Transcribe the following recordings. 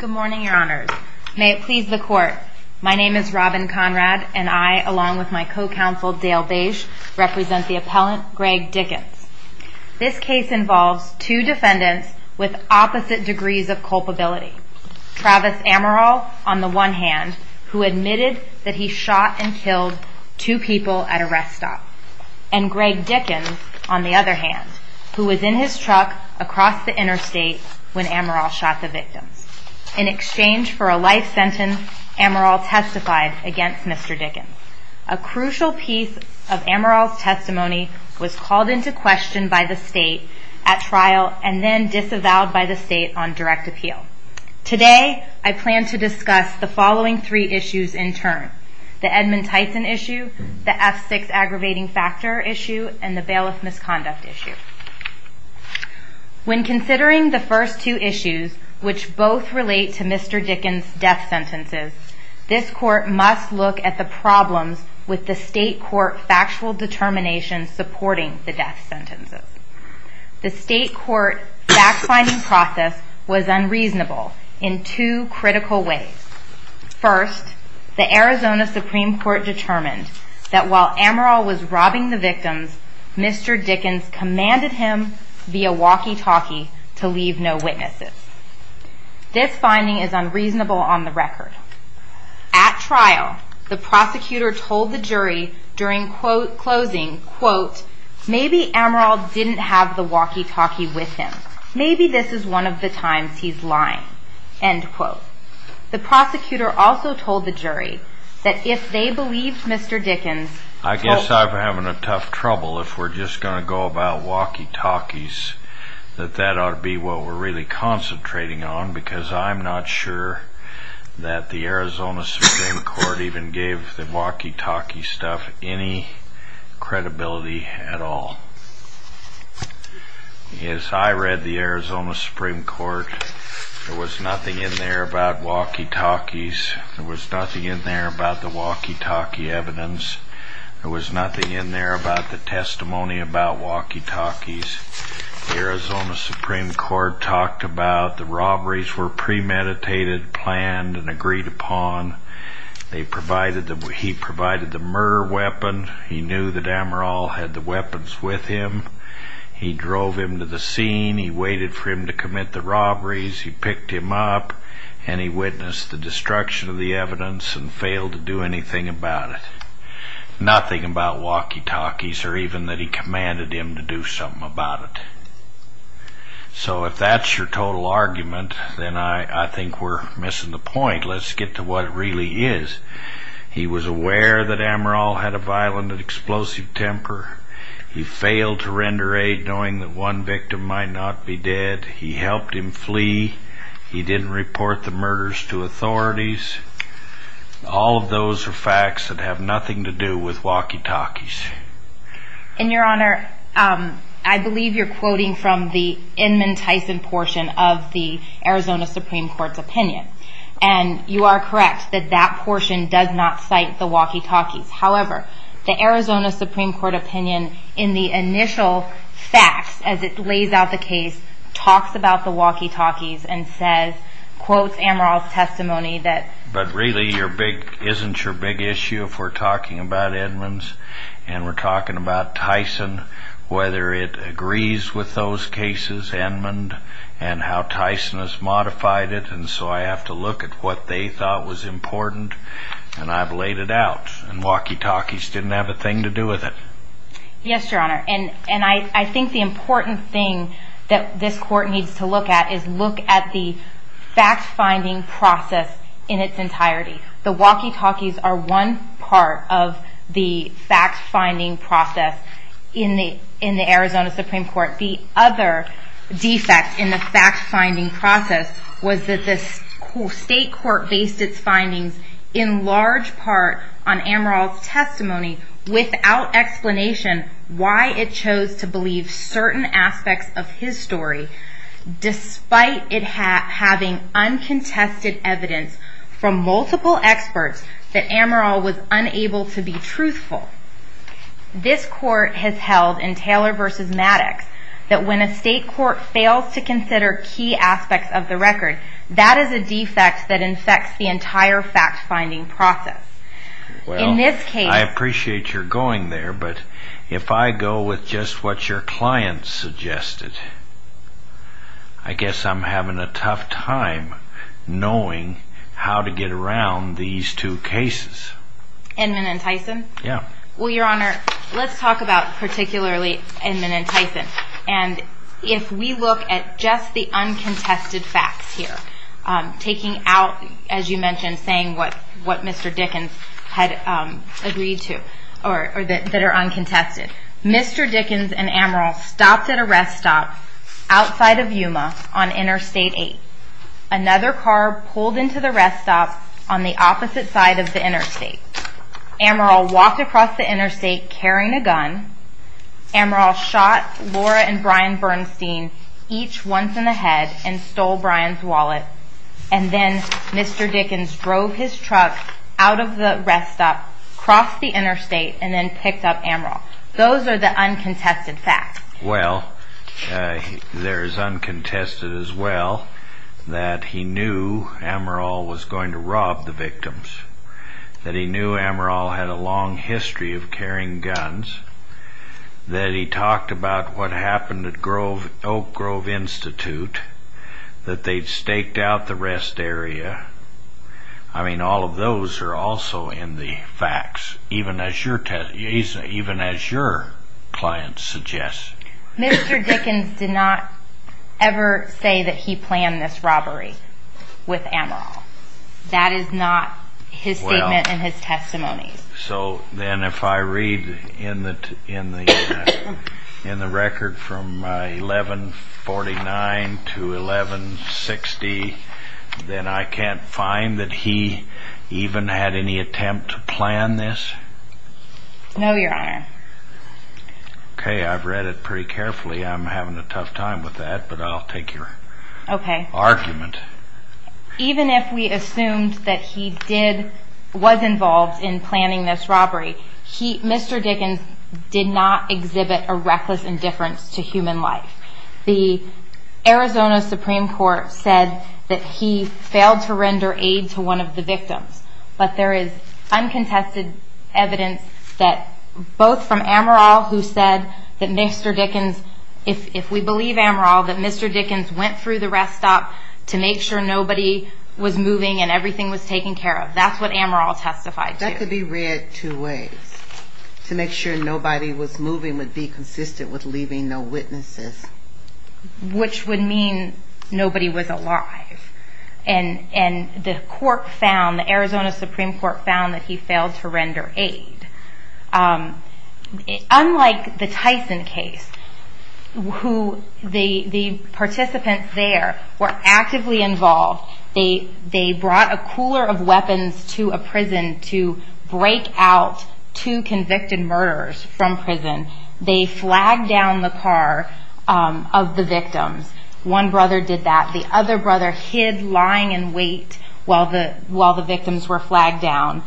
Good morning, your honors. May it please the court. My name is Robin Conrad, and I, along with my co-counsel Dale Beige, represent the appellant Greg Dickens. This case involves two defendants with opposite degrees of culpability. Travis Amaral, on the one hand, who admitted that he shot and killed two people at a rest stop. And Greg Dickens, on the other hand, who was in his truck across the interstate when Amaral shot the victims. In exchange for a life sentence, Amaral testified against Mr. Dickens. A crucial piece of Amaral's testimony was called into question by the state at trial and then disavowed by the state on direct appeal. Today, I plan to discuss the following three issues in turn. The Edmund Tyson issue, the F6 aggravating factor issue, and the bailiff misconduct issue. When considering the first two issues, which both relate to Mr. Dickens' death sentences, this court must look at the problems with the state court factual determination supporting the death sentences. The state court fact-finding process was unreasonable in two critical ways. First, the Arizona Supreme Court determined that while Amaral was robbing the victims, Mr. Dickens commanded him via walkie-talkie to leave no witnesses. This finding is unreasonable on the record. At trial, the prosecutor told the jury during closing, quote, maybe Amaral didn't have the walkie-talkie with him. Maybe this is one of the times he's lying, end quote. The prosecutor also told the jury that if they believed Mr. Dickens... I guess I'm having a tough trouble. If we're just going to go about walkie-talkies, that that ought to be what we're really concentrating on because I'm not sure that the Arizona Supreme Court even gave the walkie-talkie stuff any credibility at all. As I read the Arizona Supreme Court, there was nothing in there about walkie-talkies. There was nothing in there about the walkie-talkie evidence. There was nothing in there about the testimony about walkie-talkies. The Arizona Supreme Court talked about the robberies were premeditated, planned, and agreed upon. He provided the murder weapon. He knew that Amaral had the weapons with him. He drove him to the scene. He waited for him to commit the robberies. He picked him up, and he witnessed the destruction of the evidence and failed to do anything about it. Nothing about walkie-talkies or even that he commanded him to do something about it. So if that's your total argument, then I think we're missing the point. Let's get to what it really is. He was aware that Amaral had a violent and explosive temper. He failed to render aid knowing that one victim might not be dead. He helped him flee. He didn't report the murders to authorities. All of those are facts that have nothing to do with walkie-talkies. And, Your Honor, I believe you're quoting from the Inman Tyson portion of the Arizona Supreme Court's opinion. And you are correct that that portion does not cite the walkie-talkies. However, the Arizona Supreme Court opinion in the initial facts as it lays out the case talks about the walkie-talkies and quotes Amaral's testimony. But really, isn't your big issue if we're talking about Inmans and we're talking about Tyson, whether it agrees with those cases, Inman, and how Tyson has modified it? And so I have to look at what they thought was important, and I've laid it out. And walkie-talkies didn't have a thing to do with it. Yes, Your Honor. And I think the important thing that this court needs to look at is look at the fact-finding process in its entirety. The walkie-talkies are one part of the fact-finding process in the Arizona Supreme Court. The other defect in the fact-finding process was that the state court based its findings in large part on Amaral's testimony without explanation why it chose to believe certain aspects of his story despite it having uncontested evidence from multiple experts that Amaral was unable to be truthful. This court has held in Taylor v. Maddox that when a state court fails to consider key aspects of the record, that is a defect that infects the entire fact-finding process. Well, I appreciate your going there, but if I go with just what your client suggested, I guess I'm having a tough time knowing how to get around these two cases. Inman and Tyson? Yeah. Well, Your Honor, let's talk about particularly Inman and Tyson. If we look at just the uncontested facts here, taking out, as you mentioned, saying what Mr. Dickens had agreed to or that are uncontested. Mr. Dickens and Amaral stopped at a rest stop outside of Yuma on Interstate 8. Another car pulled into the rest stop on the opposite side of the interstate. Amaral walked across the interstate carrying a gun. Amaral shot Laura and Brian Bernstein each once in the head and stole Brian's wallet. And then Mr. Dickens drove his truck out of the rest stop, crossed the interstate, and then picked up Amaral. Those are the uncontested facts. Well, there is uncontested as well that he knew Amaral was going to rob the victims, that he knew Amaral had a long history of carrying guns, that he talked about what happened at Oak Grove Institute, that they'd staked out the rest area. I mean, all of those are also in the facts, even as your client suggests. Mr. Dickens did not ever say that he planned this robbery with Amaral. That is not his statement and his testimony. So then if I read in the record from 1149 to 1160, then I can't find that he even had any attempt to plan this? No, Your Honor. Okay, I've read it pretty carefully. I'm having a tough time with that, but I'll take your argument. Even if we assumed that he was involved in planning this robbery, Mr. Dickens did not exhibit a reckless indifference to human life. The Arizona Supreme Court said that he failed to render aid to one of the victims, but there is uncontested evidence that both from Amaral, who said that Mr. Dickens, if we believe Amaral, that Mr. Dickens went through the rest stop to make sure nobody was moving and everything was taken care of. That's what Amaral testified to. That could be read two ways. To make sure nobody was moving would be consistent with leaving no witnesses. Which would mean nobody was alive. And the court found, the Arizona Supreme Court found, that he failed to render aid. Unlike the Tyson case, the participants there were actively involved. They brought a cooler of weapons to a prison to break out two convicted murderers from prison. They flagged down the car of the victims. One brother did that. The other brother hid, lying in wait, while the victims were flagged down.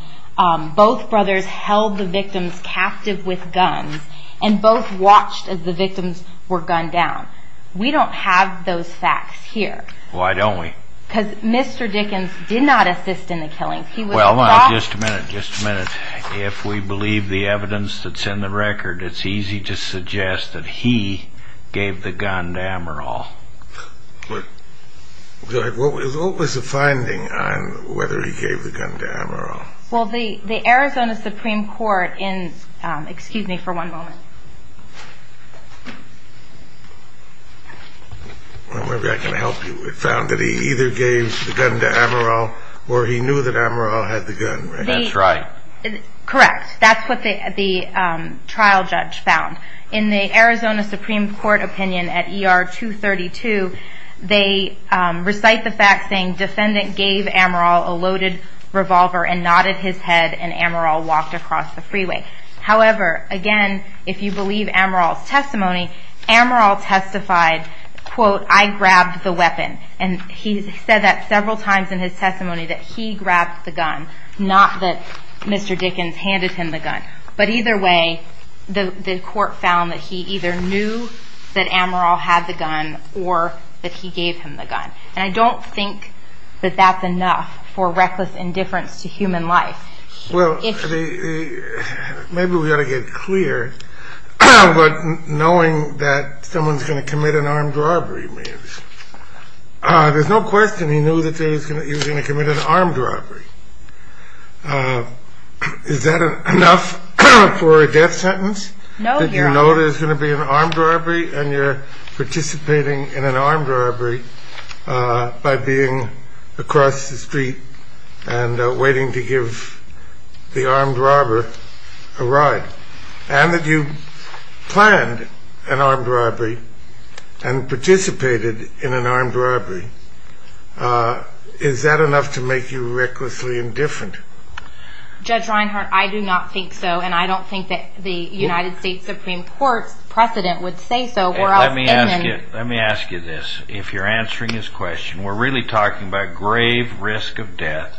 Both brothers held the victims captive with guns and both watched as the victims were gunned down. We don't have those facts here. Why don't we? Because Mr. Dickens did not assist in the killings. Well, hold on just a minute, just a minute. If we believe the evidence that's in the record, it's easy to suggest that he gave the gun to Amaral. Go ahead. What was the finding on whether he gave the gun to Amaral? Well, the Arizona Supreme Court in, excuse me for one moment. Well, maybe I can help you. It found that he either gave the gun to Amaral or he knew that Amaral had the gun, right? That's right. Correct. That's what the trial judge found. In the Arizona Supreme Court opinion at ER 232, they recite the fact saying defendant gave Amaral a loaded revolver and nodded his head and Amaral walked across the freeway. However, again, if you believe Amaral's testimony, Amaral testified, quote, I grabbed the weapon. And he said that several times in his testimony that he grabbed the gun, not that Mr. Dickens handed him the gun. But either way, the court found that he either knew that Amaral had the gun or that he gave him the gun. And I don't think that that's enough for reckless indifference to human life. Well, maybe we ought to get clear. But knowing that someone's going to commit an armed robbery, there's no question he knew that he was going to commit an armed robbery. Is that enough for a death sentence? No, Your Honor. That you know there's going to be an armed robbery and you're participating in an armed robbery by being across the street and waiting to give the armed robber a ride. And that you planned an armed robbery and participated in an armed robbery. Is that enough to make you recklessly indifferent? Judge Reinhart, I do not think so. And I don't think that the United States Supreme Court's precedent would say so. Let me ask you this. If you're answering his question, we're really talking about grave risk of death.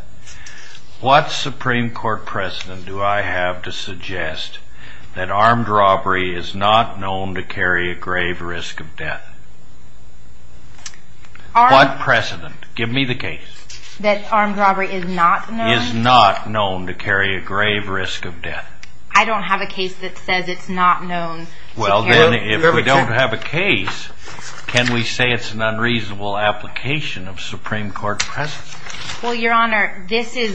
What Supreme Court precedent do I have to suggest that armed robbery is not known to carry a grave risk of death? What precedent? Give me the case. That armed robbery is not known? Is not known to carry a grave risk of death. I don't have a case that says it's not known to carry a grave risk of death. Well, then, if we don't have a case, can we say it's an unreasonable application of Supreme Court precedent? Well, Your Honor, this is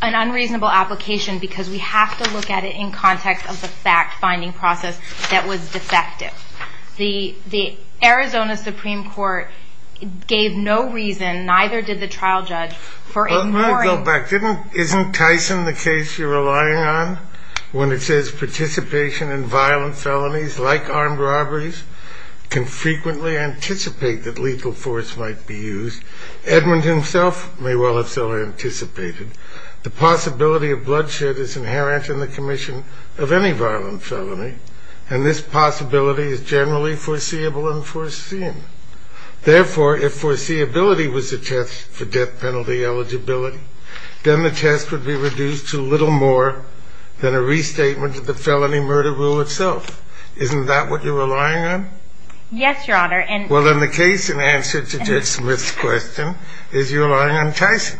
an unreasonable application because we have to look at it in context of the fact-finding process that was defective. The Arizona Supreme Court gave no reason, neither did the trial judge, for ignoring... Isn't Tyson the case you're relying on? When it says participation in violent felonies like armed robberies can frequently anticipate that legal force might be used. Edmund himself may well have so anticipated. The possibility of bloodshed is inherent in the commission of any violent felony, and this possibility is generally foreseeable and foreseen. Therefore, if foreseeability was the test for death penalty eligibility, then the test would be reduced to little more than a restatement of the felony murder rule itself. Isn't that what you're relying on? Yes, Your Honor, and... Well, then, the case in answer to Judge Smith's question is you're relying on Tyson.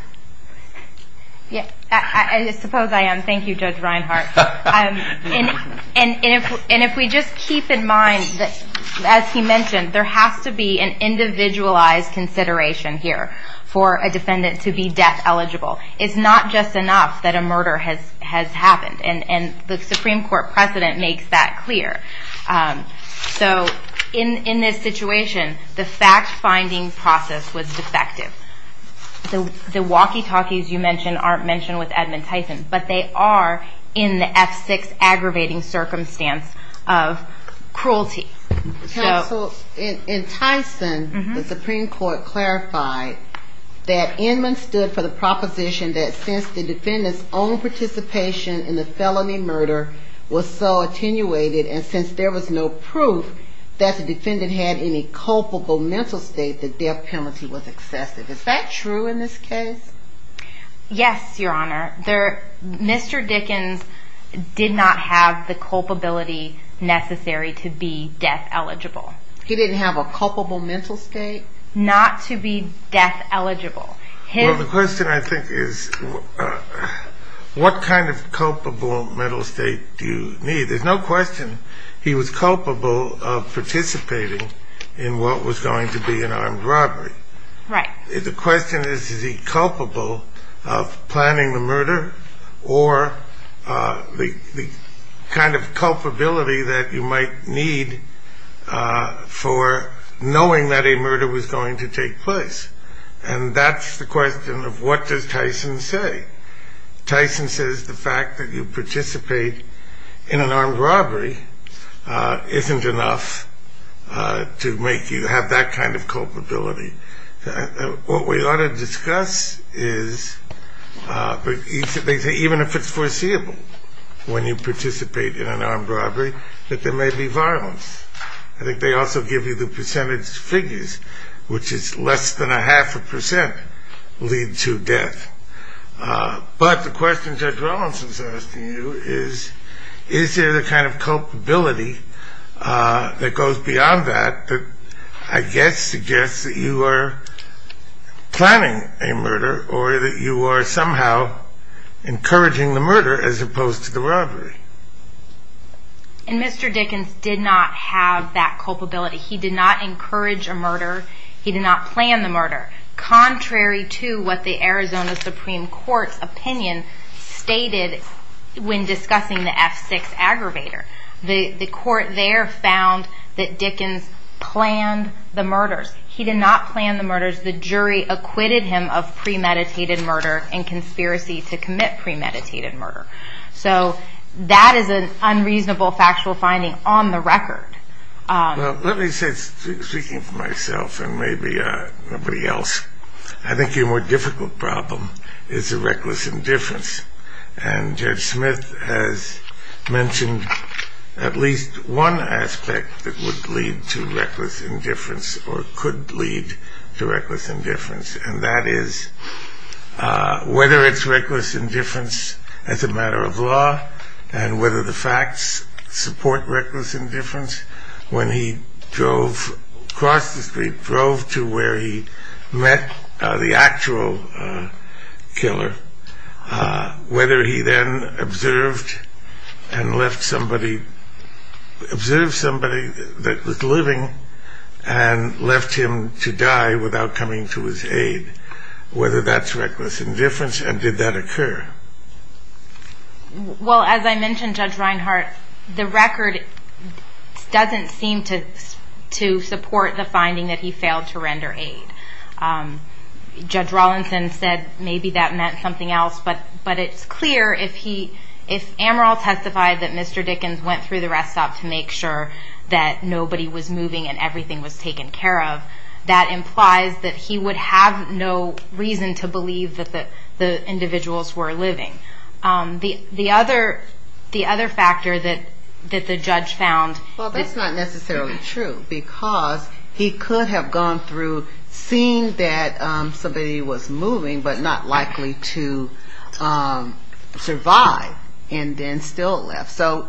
Yes, I suppose I am. Thank you, Judge Reinhart. And if we just keep in mind that, as he mentioned, there has to be an individualized consideration here for a defendant to be death eligible. It's not just enough that a murder has happened, and the Supreme Court precedent makes that clear. So, in this situation, the fact-finding process was defective. The walkie-talkies you mentioned aren't mentioned with Edmund Tyson, but they are in the F6 aggravating circumstance of cruelty. Counsel, in Tyson, the Supreme Court clarified that Edmund stood for the proposition that since the defendant's own participation in the felony murder was so attenuated, and since there was no proof that the defendant had any culpable mental state, the death penalty was excessive. Is that true in this case? Yes, Your Honor. Mr. Dickens did not have the culpability necessary to be death eligible. He didn't have a culpable mental state? Not to be death eligible. Well, the question, I think, is what kind of culpable mental state do you need? There's no question he was culpable of participating in what was going to be an armed robbery. Right. The question is, is he culpable of planning the murder, or the kind of culpability that you might need for knowing that a murder was going to take place? And that's the question of what does Tyson say? Tyson says the fact that you participate in an armed robbery isn't enough to make you have that kind of culpability. What we ought to discuss is, even if it's foreseeable, when you participate in an armed robbery, that there may be violence. I think they also give you the percentage figures, which is less than a half a percent lead to death. But the question Judge Rollins is asking you is, is there the kind of culpability that goes beyond that, that I guess suggests that you are planning a murder or that you are somehow encouraging the murder as opposed to the robbery? And Mr. Dickens did not have that culpability. He did not encourage a murder. He did not plan the murder. Contrary to what the Arizona Supreme Court's opinion stated when discussing the F6 aggravator, the court there found that Dickens planned the murders. He did not plan the murders. The jury acquitted him of premeditated murder and conspiracy to commit premeditated murder. So that is an unreasonable factual finding on the record. Well, let me say, speaking for myself and maybe nobody else, I think your more difficult problem is the reckless indifference. And Judge Smith has mentioned at least one aspect that would lead to reckless indifference or could lead to reckless indifference, and that is whether it's reckless indifference as a matter of law and whether the facts support reckless indifference. When he drove across the street, drove to where he met the actual killer, whether he then observed and left somebody, observed somebody that was living and left him to die without coming to his aid, whether that's reckless indifference and did that occur? Well, as I mentioned, Judge Reinhart, the record doesn't seem to support the finding that he failed to render aid. Judge Rawlinson said maybe that meant something else, but it's clear if Amaral testified that Mr. Dickens went through the rest stop to make sure that nobody was moving and everything was taken care of, that implies that he would have no reason to believe that the individuals were living. The other factor that the judge found... Seeing that somebody was moving but not likely to survive and then still left. So,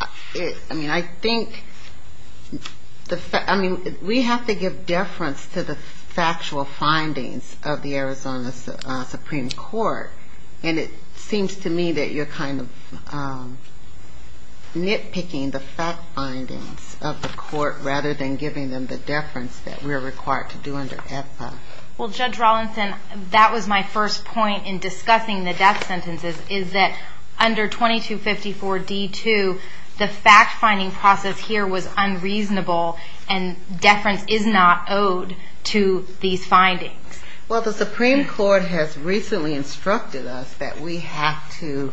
I mean, I think we have to give deference to the factual findings of the Arizona Supreme Court, and it seems to me that you're kind of nitpicking the fact findings of the court rather than giving them the deference that we're required to do under EPA. Well, Judge Rawlinson, that was my first point in discussing the death sentences, is that under 2254 D2, the fact-finding process here was unreasonable and deference is not owed to these findings. Well, the Supreme Court has recently instructed us that we have to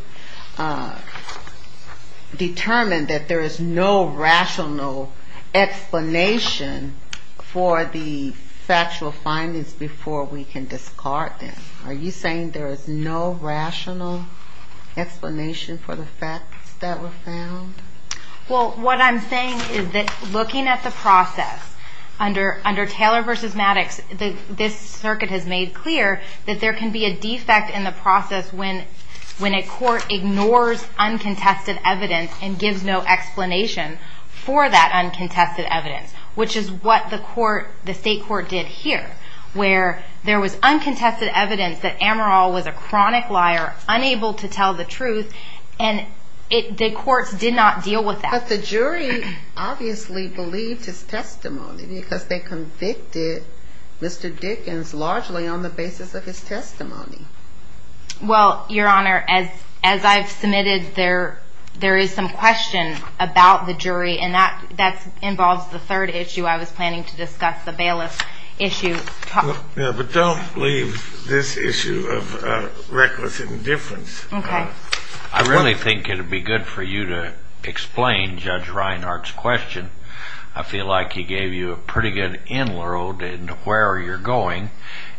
determine that there is no rational explanation for the factual findings before we can discard them. Are you saying there is no rational explanation for the facts that were found? Well, what I'm saying is that looking at the process under Taylor v. Maddox, this circuit has made clear that there can be a defect in the process when a court ignores uncontested evidence and gives no explanation for that uncontested evidence, which is what the state court did here, where there was uncontested evidence that Amaral was a chronic liar, unable to tell the truth, and the courts did not deal with that. But the jury obviously believed his testimony because they convicted Mr. Dickens largely on the basis of his testimony. Well, Your Honor, as I've submitted, there is some question about the jury, and that involves the third issue I was planning to discuss, the bailiff issue. Yeah, but don't leave this issue of reckless indifference. Okay. I really think it would be good for you to explain Judge Reinhart's question. I feel like he gave you a pretty good in-world into where you're going,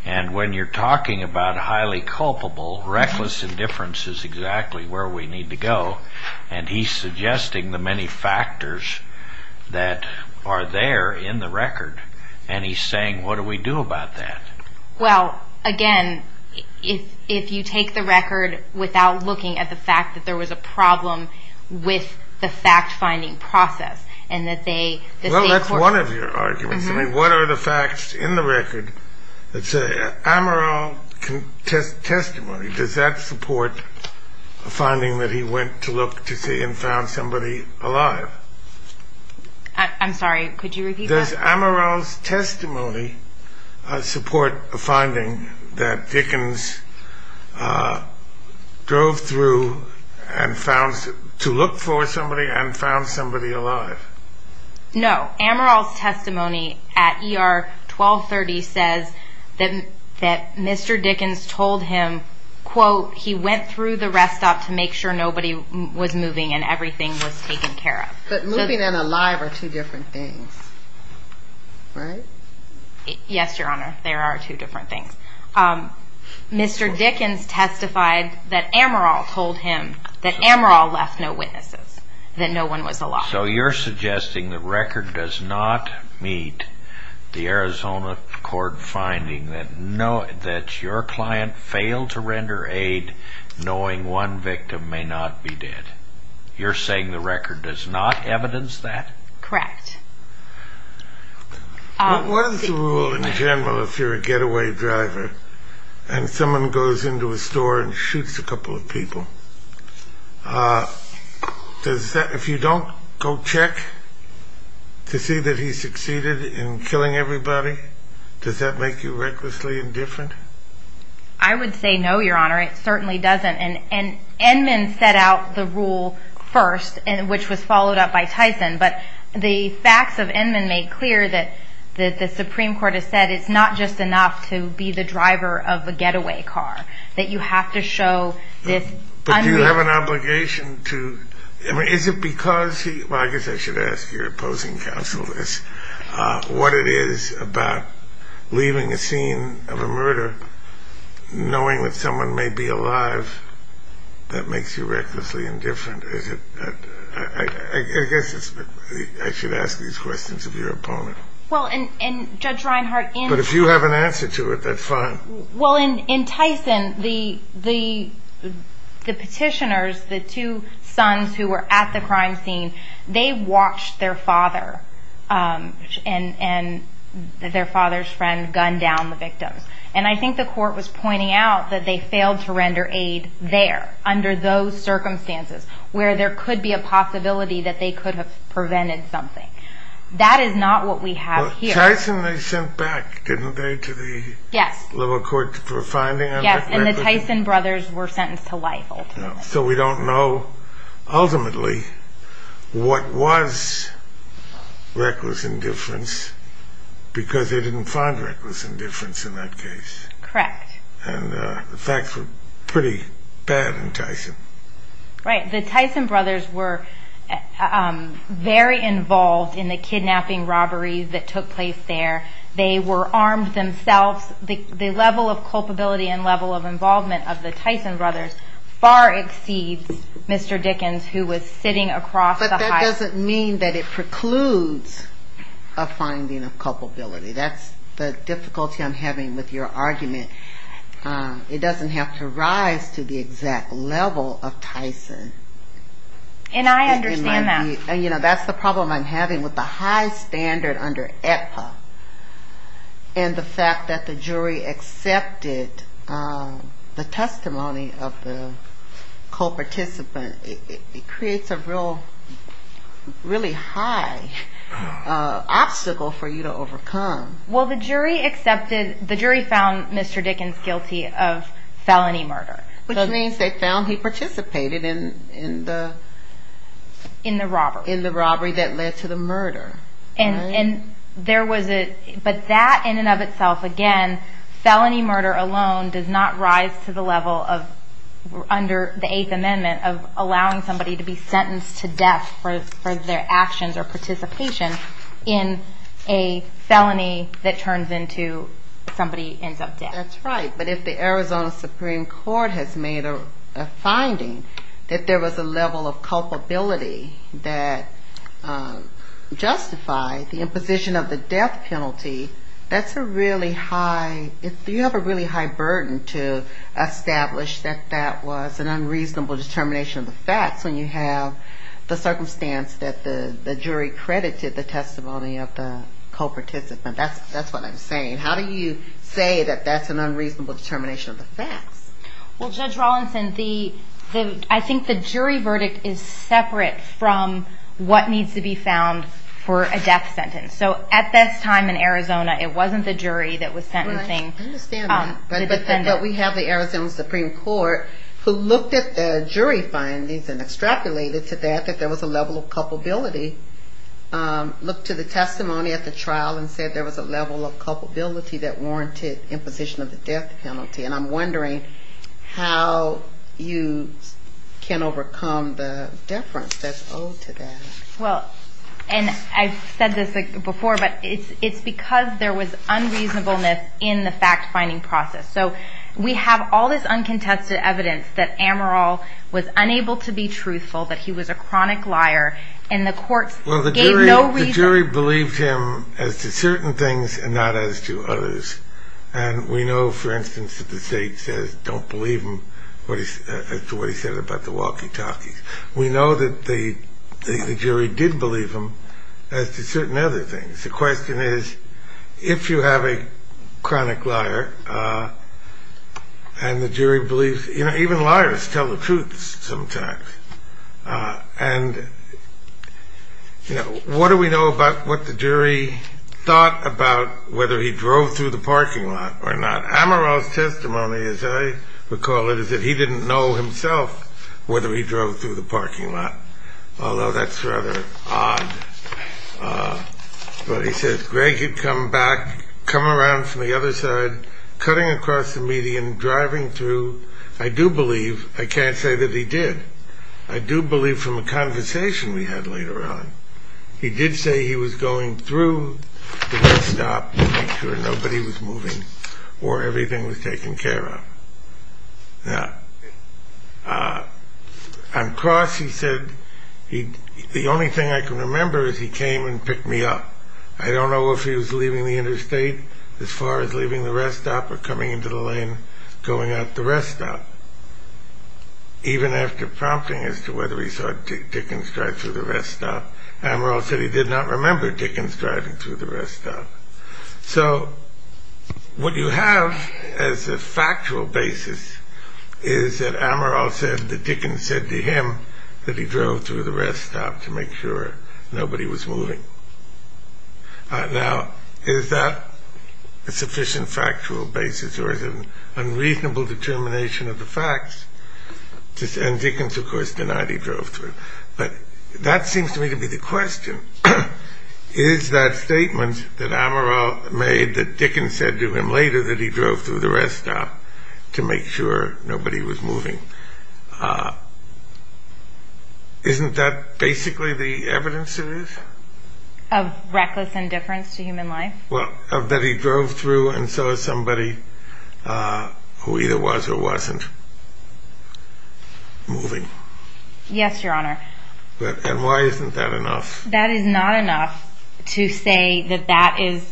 and when you're talking about highly culpable, reckless indifference is exactly where we need to go, and he's suggesting the many factors that are there in the record, and he's saying, what do we do about that? Well, again, if you take the record without looking at the fact that there was a problem with the fact-finding process Well, that's one of your arguments. I mean, what are the facts in the record that say Amaral's testimony, does that support a finding that he went to look to see and found somebody alive? I'm sorry, could you repeat that? Does Amaral's testimony support a finding that Dickens drove through to look for somebody and found somebody alive? No. Amaral's testimony at ER 1230 says that Mr. Dickens told him, quote, he went through the rest stop to make sure nobody was moving and everything was taken care of. But moving and alive are two different things, right? Yes, Your Honor, they are two different things. Mr. Dickens testified that Amaral told him that Amaral left no witnesses, that no one was alive. So you're suggesting the record does not meet the Arizona court finding that your client failed to render aid knowing one victim may not be dead. You're saying the record does not evidence that? Correct. What is the rule in general if you're a getaway driver and someone goes into a store and shoots a couple of people? If you don't go check to see that he succeeded in killing everybody, does that make you recklessly indifferent? I would say no, Your Honor, it certainly doesn't. And Inman set out the rule first, which was followed up by Tyson. But the facts of Inman made clear that the Supreme Court has said it's not just enough to be the driver of a getaway car, that you have to show this unrealistic – But do you have an obligation to – I mean, is it because he – well, I guess I should ask your opposing counsel this – what it is about leaving a scene of a murder, knowing that someone may be alive, that makes you recklessly indifferent? I guess I should ask these questions of your opponent. Well, and Judge Reinhart – But if you have an answer to it, that's fine. Well, in Tyson, the petitioners, the two sons who were at the crime scene, they watched their father and their father's friend gun down the victims. And I think the court was pointing out that they failed to render aid there, under those circumstances, where there could be a possibility that they could have prevented something. That is not what we have here. Well, Tyson they sent back, didn't they, to the liberal court for finding them? Yes, and the Tyson brothers were sentenced to life, ultimately. So we don't know, ultimately, what was reckless indifference, because they didn't find reckless indifference in that case. Correct. And the facts were pretty bad in Tyson. Right. The Tyson brothers were very involved in the kidnapping robbery that took place there. They were armed themselves. The level of culpability and level of involvement of the Tyson brothers far exceeds Mr. Dickens, who was sitting across the aisle. But that doesn't mean that it precludes a finding of culpability. That's the difficulty I'm having with your argument. It doesn't have to rise to the exact level of Tyson. And I understand that. That's the problem I'm having with the high standard under AEPA and the fact that the jury accepted the testimony of the co-participant. It creates a really high obstacle for you to overcome. Well, the jury found Mr. Dickens guilty of felony murder. Which means they found he participated in the robbery that led to the murder. But that in and of itself, again, felony murder alone does not rise to the level under the Eighth Amendment of allowing somebody to be sentenced to death for their actions or participation in a felony that turns into somebody ends up dead. That's right. But if the Arizona Supreme Court has made a finding that there was a level of culpability that justified the imposition of the death penalty, that's a really high burden to establish that that was an unreasonable determination of the facts when you have the circumstance that the jury credited the testimony of the co-participant. That's what I'm saying. How do you say that that's an unreasonable determination of the facts? Well, Judge Rawlinson, I think the jury verdict is separate from what needs to be found for a death sentence. At this time in Arizona, it wasn't the jury that was sentencing the defendant. I understand that. But we have the Arizona Supreme Court who looked at the jury findings and extrapolated to that that there was a level of culpability. Looked to the testimony at the trial and said there was a level of culpability that warranted imposition of the death penalty. And I'm wondering how you can overcome the deference that's owed to that. Well, and I've said this before, but it's because there was unreasonableness in the fact-finding process. So we have all this uncontested evidence that Amaral was unable to be truthful, that he was a chronic liar, and the courts gave no reason. Well, the jury believed him as to certain things and not as to others. And we know, for instance, that the state says, don't believe him as to what he said about the walkie-talkies. We know that the jury did believe him as to certain other things. The question is, if you have a chronic liar and the jury believes, you know, even liars tell the truth sometimes. And, you know, what do we know about what the jury thought about whether he drove through the parking lot or not? Amaral's testimony, as I recall it, is that he didn't know himself whether he drove through the parking lot, although that's rather odd. But he says, Greg had come back, come around from the other side, cutting across the median, driving through. I do believe. I can't say that he did. I do believe from a conversation we had later on. He did say he was going through the rest stop to make sure nobody was moving or everything was taken care of. Now, on cross, he said, the only thing I can remember is he came and picked me up. I don't know if he was leaving the interstate as far as leaving the rest stop or coming into the lane going out the rest stop. Even after prompting as to whether he saw Dickens drive through the rest stop, Amaral said he did not remember Dickens driving through the rest stop. So what you have as a factual basis is that Amaral said that Dickens said to him that he drove through the rest stop to make sure nobody was moving. Now, is that a sufficient factual basis or is it an unreasonable determination of the facts? And Dickens, of course, denied he drove through. But that seems to me to be the question. Is that statement that Amaral made that Dickens said to him later that he drove through the rest stop to make sure nobody was moving, isn't that basically the evidence it is? Of reckless indifference to human life? Well, that he drove through and saw somebody who either was or wasn't moving. Yes, Your Honor. And why isn't that enough? That is not enough to say that that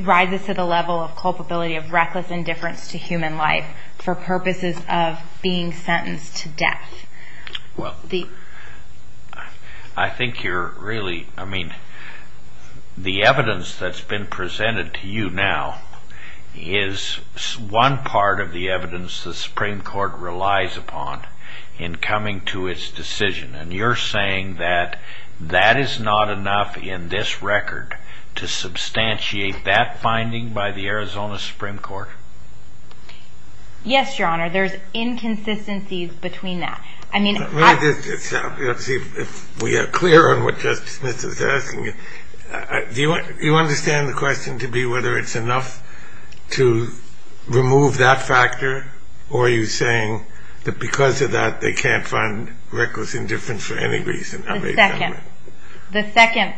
rises to the level of culpability of reckless indifference to human life for purposes of being sentenced to death. Well, I think you're really, I mean, the evidence that's been presented to you now is one part of the evidence the Supreme Court relies upon in coming to its decision. And you're saying that that is not enough in this record to substantiate that finding by the Arizona Supreme Court? Yes, Your Honor. There's inconsistencies between that. Do you understand the question to be whether it's enough to remove that factor or are you saying that because of that they can't find reckless indifference for any reason? The second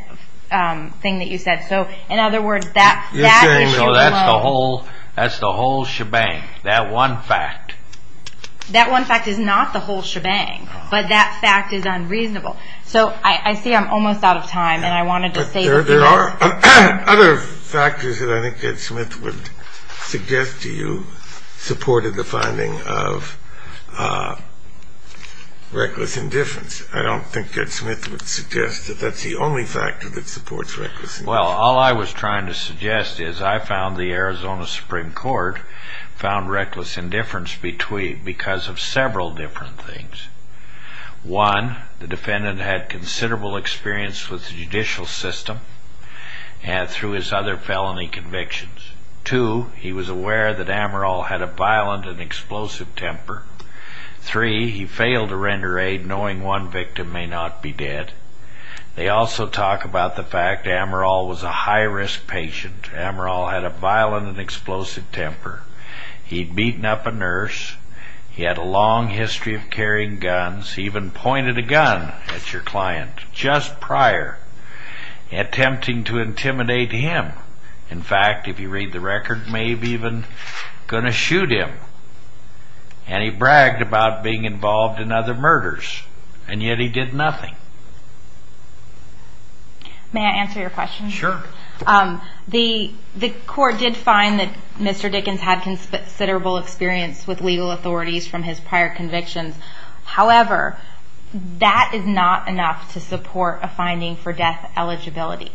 thing that you said. So, in other words, that fact that you promote... That's the whole shebang, that one fact. That one fact is not the whole shebang, but that fact is unreasonable. So, I see I'm almost out of time and I wanted to say... But there are other factors that I think Ed Smith would suggest to you supported the finding of reckless indifference. I don't think Ed Smith would suggest that that's the only factor that supports reckless indifference. Well, all I was trying to suggest is I found the Arizona Supreme Court found reckless indifference because of several different things. One, the defendant had considerable experience with the judicial system through his other felony convictions. Two, he was aware that Amaral had a violent and explosive temper. Three, he failed to render aid knowing one victim may not be dead. They also talk about the fact Amaral was a high-risk patient. Amaral had a violent and explosive temper. He'd beaten up a nurse. He had a long history of carrying guns. He even pointed a gun at your client just prior, attempting to intimidate him. In fact, if you read the record, maybe even going to shoot him. And he bragged about being involved in other murders, and yet he did nothing. May I answer your question? Sure. The court did find that Mr. Dickens had considerable experience with legal authorities from his prior convictions. However, that is not enough to support a finding for death eligibility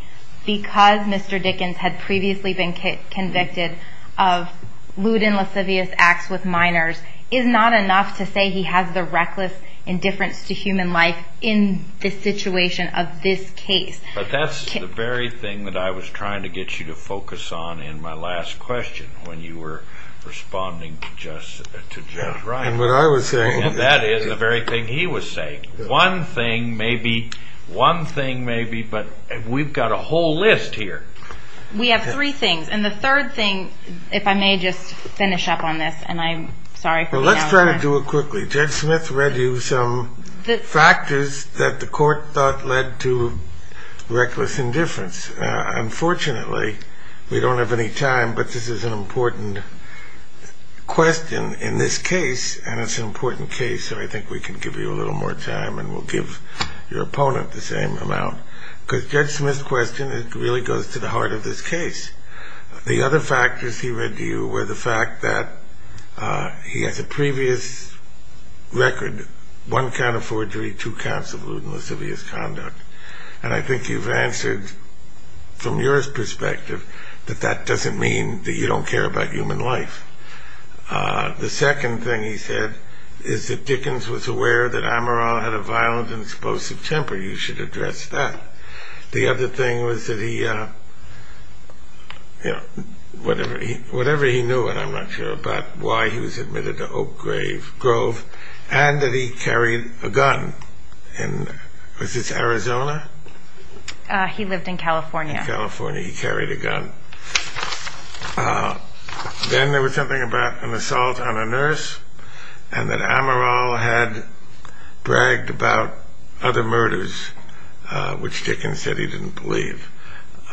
because Mr. Dickens had previously been convicted of lewd and lascivious acts with minors is not enough to say he has the reckless indifference to human life in the situation of this case. But that's the very thing that I was trying to get you to focus on in my last question when you were responding to Judge Ryan. And what I was saying. And that is the very thing he was saying. One thing maybe, one thing maybe, but we've got a whole list here. We have three things. And the third thing, if I may just finish up on this, and I'm sorry for being out of time. Well, let's try to do it quickly. Judge Smith read you some factors that the court thought led to reckless indifference. Unfortunately, we don't have any time, but this is an important question in this case, and it's an important case, so I think we can give you a little more time and we'll give your opponent the same amount. Because Judge Smith's question really goes to the heart of this case. The other factors he read to you were the fact that he has a previous record, one count of forgery, two counts of lewd and lascivious conduct. And I think you've answered from your perspective that that doesn't mean that you don't care about human life. The second thing he said is that Dickens was aware that Amaral had a violent and explosive temper. You should address that. The other thing was that he, you know, whatever he knew, and I'm not sure about why he was admitted to Oak Grove, and that he carried a gun in, was this Arizona? He lived in California. In California, he carried a gun. Then there was something about an assault on a nurse and that Amaral had bragged about other murders, which Dickens said he didn't believe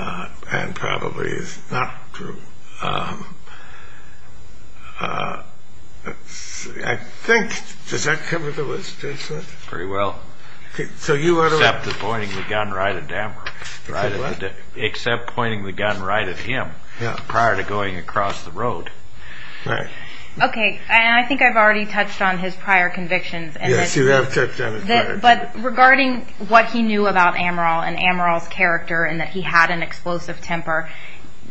and probably is not true. I think, does that cover the list, Judge Smith? Very well. Except the pointing the gun right at Amaral. Except pointing the gun right at him prior to going across the road. Okay, and I think I've already touched on his prior convictions. Yes, you have touched on his prior convictions. But regarding what he knew about Amaral and Amaral's character and that he had an explosive temper,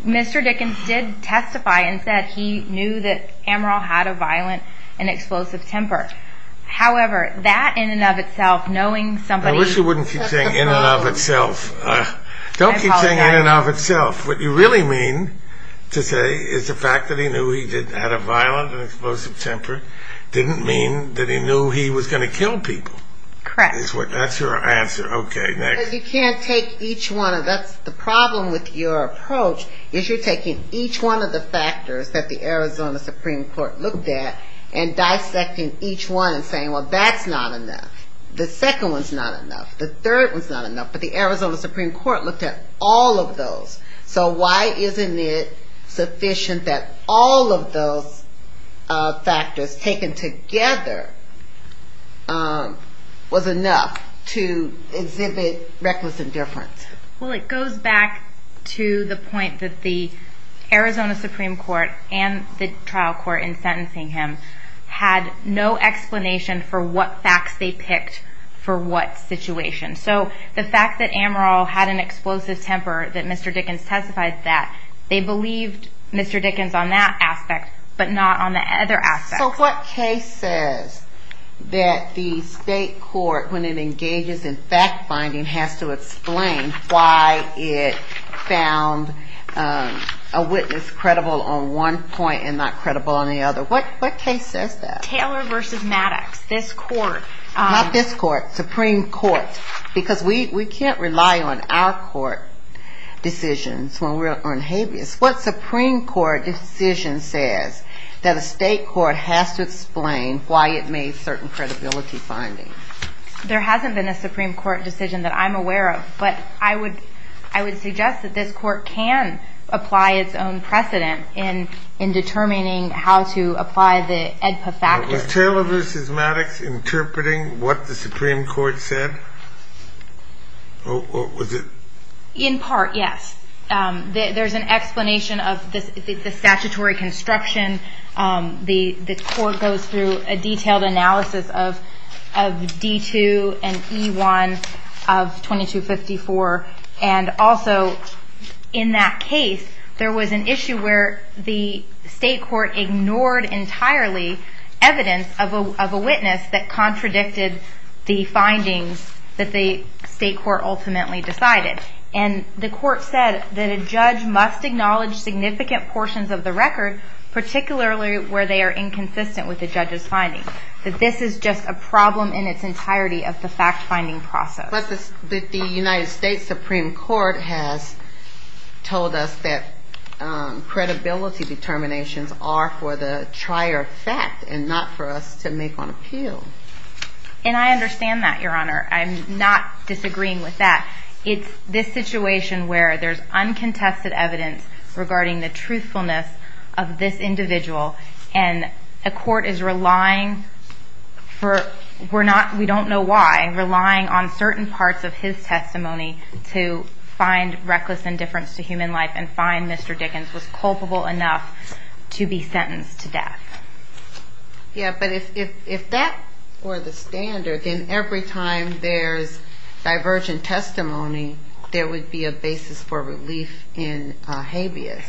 Mr. Dickens did testify and said he knew that Amaral had a violent and explosive temper. However, that in and of itself, knowing somebody took the phone... I wish you wouldn't keep saying in and of itself. Don't keep saying in and of itself. What you really mean to say is the fact that he knew he had a violent and explosive temper didn't mean that he knew he was going to kill people. Correct. That's your answer. Okay, next. You can't take each one. That's the problem with your approach, is you're taking each one of the factors that the Arizona Supreme Court looked at and dissecting each one and saying, well, that's not enough. The second one's not enough. The third one's not enough. But the Arizona Supreme Court looked at all of those. So why isn't it sufficient that all of those factors taken together was enough to exhibit reckless indifference? Well, it goes back to the point that the Arizona Supreme Court and the trial court in sentencing him had no explanation for what facts they picked for what situation. So the fact that Amaral had an explosive temper, that Mr. Dickens testified that, they believed Mr. Dickens on that aspect but not on the other aspects. So what case says that the state court, when it engages in fact-finding, has to explain why it found a witness credible on one point and not credible on the other? What case says that? Taylor v. Maddox, this court. Because we can't rely on our court decisions when we're on habeas. What Supreme Court decision says that a state court has to explain why it made certain credibility findings? There hasn't been a Supreme Court decision that I'm aware of, but I would suggest that this court can apply its own precedent in determining how to apply the AEDPA factors. Was Taylor v. Maddox interpreting what the Supreme Court said? Or was it... In part, yes. There's an explanation of the statutory construction. The court goes through a detailed analysis of D2 and E1 of 2254. And also, in that case, there was an issue where the state court ignored entirely evidence of a witness that contradicted the findings that the state court ultimately decided. And the court said that a judge must acknowledge significant portions of the record, particularly where they are inconsistent with the judge's findings, that this is just a problem in its entirety of the fact-finding process. But the United States Supreme Court has told us that credibility determinations are for the trier of fact and not for us to make on appeal. And I understand that, Your Honor. I'm not disagreeing with that. It's this situation where there's uncontested evidence regarding the truthfulness of this individual, and a court is relying for... parts of his testimony to find reckless indifference to human life and find Mr. Dickens was culpable enough to be sentenced to death. Yeah, but if that were the standard, then every time there's divergent testimony, there would be a basis for relief in habeas.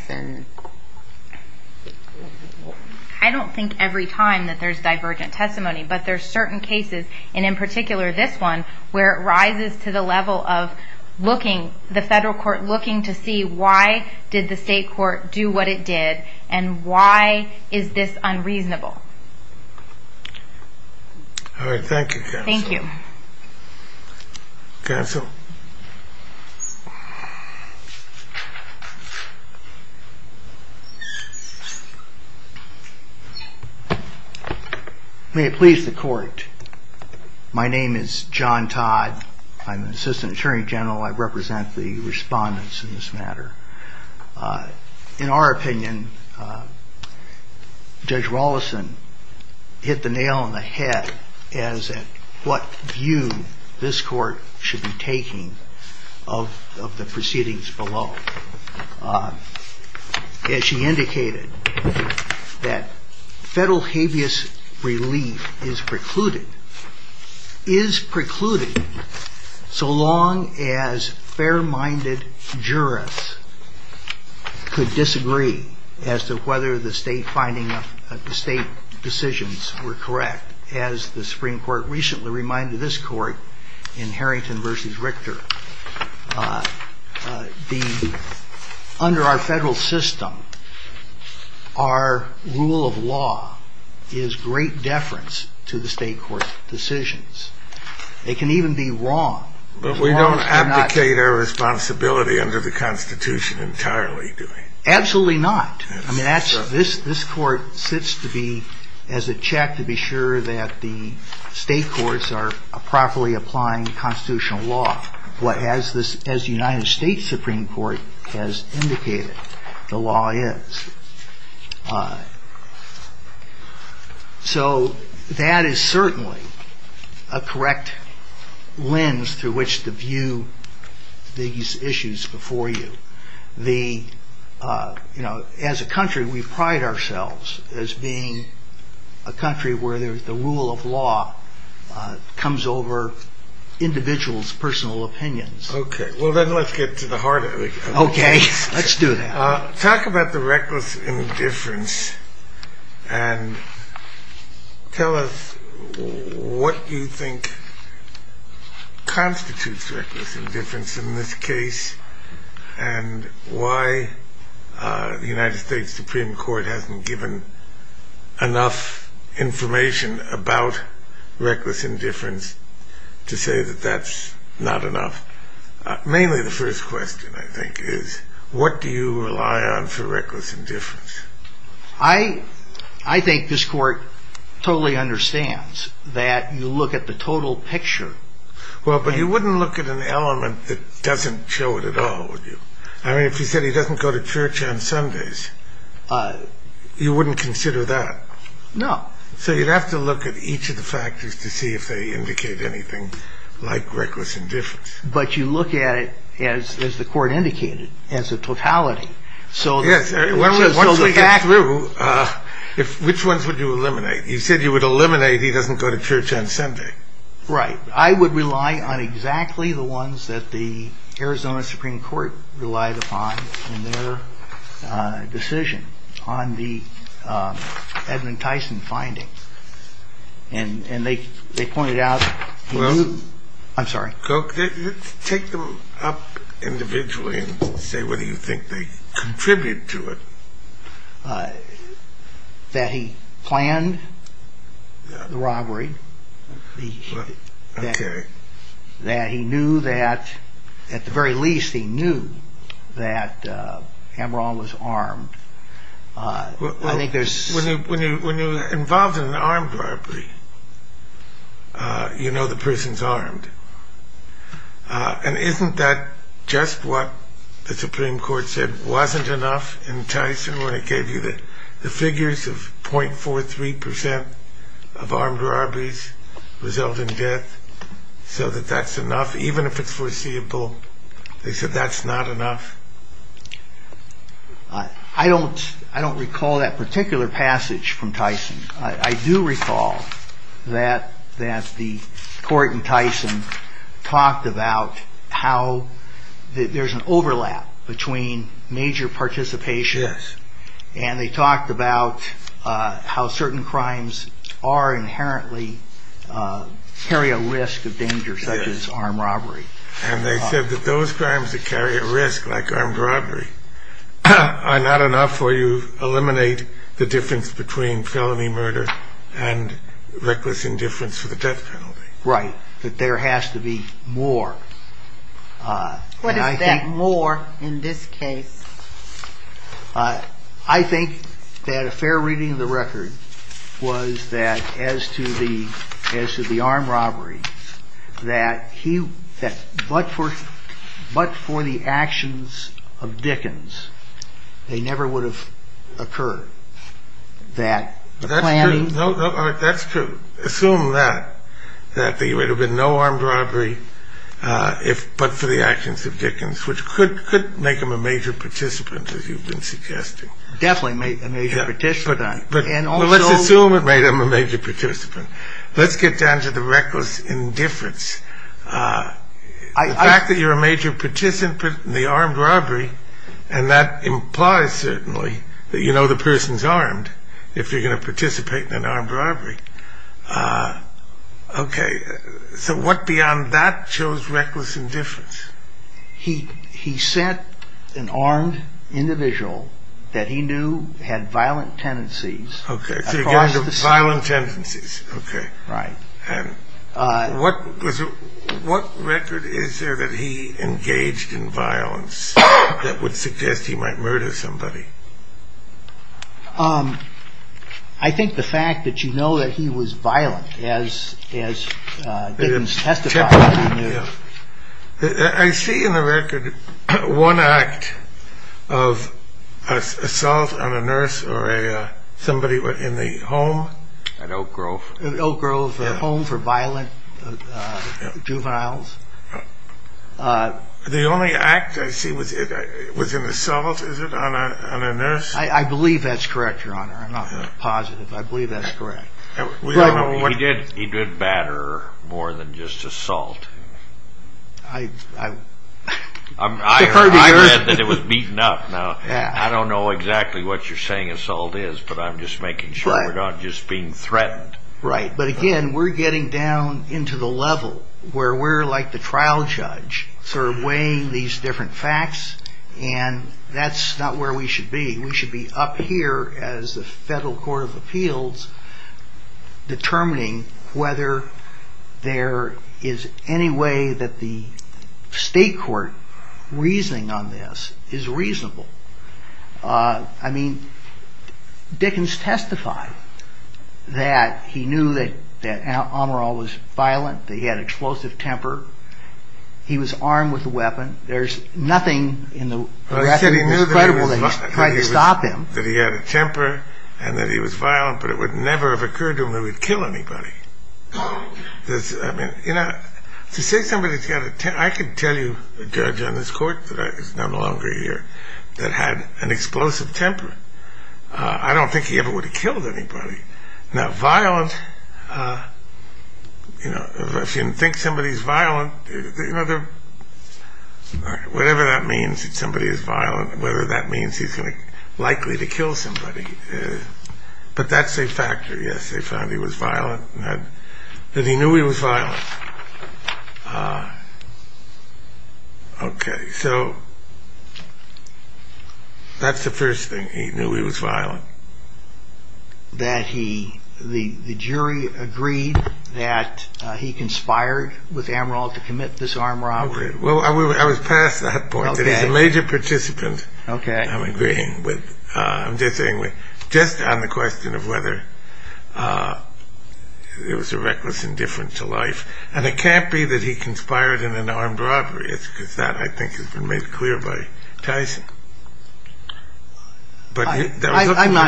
I don't think every time that there's divergent testimony, but there's certain cases, and in particular this one, where it rises to the level of the federal court looking to see why did the state court do what it did, and why is this unreasonable. All right, thank you, counsel. Thank you. Counsel. May it please the court. My name is John Todd. I'm an assistant attorney general. I represent the respondents in this matter. In our opinion, Judge Wallison hit the nail on the head as at what view this court should be taking of the proceedings below. As she indicated, that federal habeas relief is precluded, is precluded so long as fair-minded jurists could disagree as to whether the state decisions were correct. As the Supreme Court recently reminded this court in Harrington v. Richter, under our federal system, our rule of law is great deference to the state court's decisions. It can even be wrong. But we don't abdicate our responsibility under the Constitution entirely, do we? Absolutely not. I mean, this court sits to be as a check to be sure that the state courts are properly applying constitutional law, as the United States Supreme Court has indicated the law is. So that is certainly a correct lens through which to view these issues before you. As a country, we pride ourselves as being a country where the rule of law comes over individuals' personal opinions. Okay. Well, then let's get to the heart of it. Okay. Let's do that. Talk about the reckless indifference and tell us what you think constitutes reckless indifference in this case and why the United States Supreme Court hasn't given enough information about reckless indifference to say that that's not enough. Mainly the first question, I think, is what do you rely on for reckless indifference? I think this court totally understands that you look at the total picture. Well, but you wouldn't look at an element that doesn't show it at all, would you? I mean, if you said he doesn't go to church on Sundays, you wouldn't consider that. No. So you'd have to look at each of the factors to see if they indicate anything like reckless indifference. But you look at it as the court indicated, as a totality. Yes. Once we get through, which ones would you eliminate? You said you would eliminate he doesn't go to church on Sunday. Right. I would rely on exactly the ones that the Arizona Supreme Court relied upon in their decision on the Edmund Tyson finding. And they pointed out he knew. Well. I'm sorry. Take them up individually and say whether you think they contribute to it. That he planned the robbery. Okay. That he knew that, at the very least, he knew that Amaral was armed. When you're involved in an armed robbery, you know the person's armed. And isn't that just what the Supreme Court said wasn't enough in Tyson when it gave you the figures of 0.43% of armed robberies result in death, so that that's enough, even if it's foreseeable? They said that's not enough? I do recall that the court in Tyson talked about how there's an overlap between major participation. Yes. And they talked about how certain crimes are inherently carry a risk of danger, such as armed robbery. And they said that those crimes that carry a risk, like armed robbery, are not enough for you to eliminate the difference between felony murder and reckless indifference for the death penalty. Right. That there has to be more. What is that more in this case? I think that a fair reading of the record was that as to the armed robbery, that but for the actions of Dickens, they never would have occurred. That's true. Assume that, that there would have been no armed robbery but for the actions of Dickens, which could make him a major participant, as you've been suggesting. Definitely make a major participant. Let's assume it made him a major participant. Let's get down to the reckless indifference. The fact that you're a major participant in the armed robbery, and that implies certainly that you know the person's armed if you're going to participate in an armed robbery. Okay. So what beyond that shows reckless indifference? He sent an armed individual that he knew had violent tendencies. Okay. So you're getting to violent tendencies. Okay. Right. What record is there that he engaged in violence that would suggest he might murder somebody? I think the fact that you know that he was violent as Dickens testified. I see in the record one act of assault on a nurse or somebody in the home. At Oak Grove. Oak Grove, a home for violent juveniles. The only act I see was an assault, is it, on a nurse? I believe that's correct, Your Honor. I'm not positive. I believe that's correct. He did batter more than just assault. I heard that it was beaten up. I don't know exactly what you're saying assault is, but I'm just making sure we're not just being threatened. Right. But again, we're getting down into the level where we're like the trial judge, sort of weighing these different facts, and that's not where we should be. We should be up here as the federal court of appeals determining whether there is any way that the state court reasoning on this is reasonable. I mean, Dickens testified that he knew that Amaral was violent, that he had explosive temper. He was armed with a weapon. Well, he said he knew that he had a temper and that he was violent, but it would never have occurred to him that he would kill anybody. I mean, you know, to say somebody's got a temper, I could tell you a judge on this court that is no longer here that had an explosive temper. I don't think he ever would have killed anybody. Now, violent, you know, if you think somebody's violent, you know, whatever that means that somebody is violent, whether that means he's likely to kill somebody, but that's a factor. Yes, they found he was violent, that he knew he was violent. Okay, so that's the first thing, he knew he was violent. That he, the jury agreed that he conspired with Amaral to commit this armed robbery. Well, I was past that point. Okay. That he's a major participant. Okay. I'm agreeing with, I'm just saying with, just on the question of whether it was a reckless indifference to life. And it can't be that he conspired in an armed robbery, because that I think has been made clear by Tyson. I'm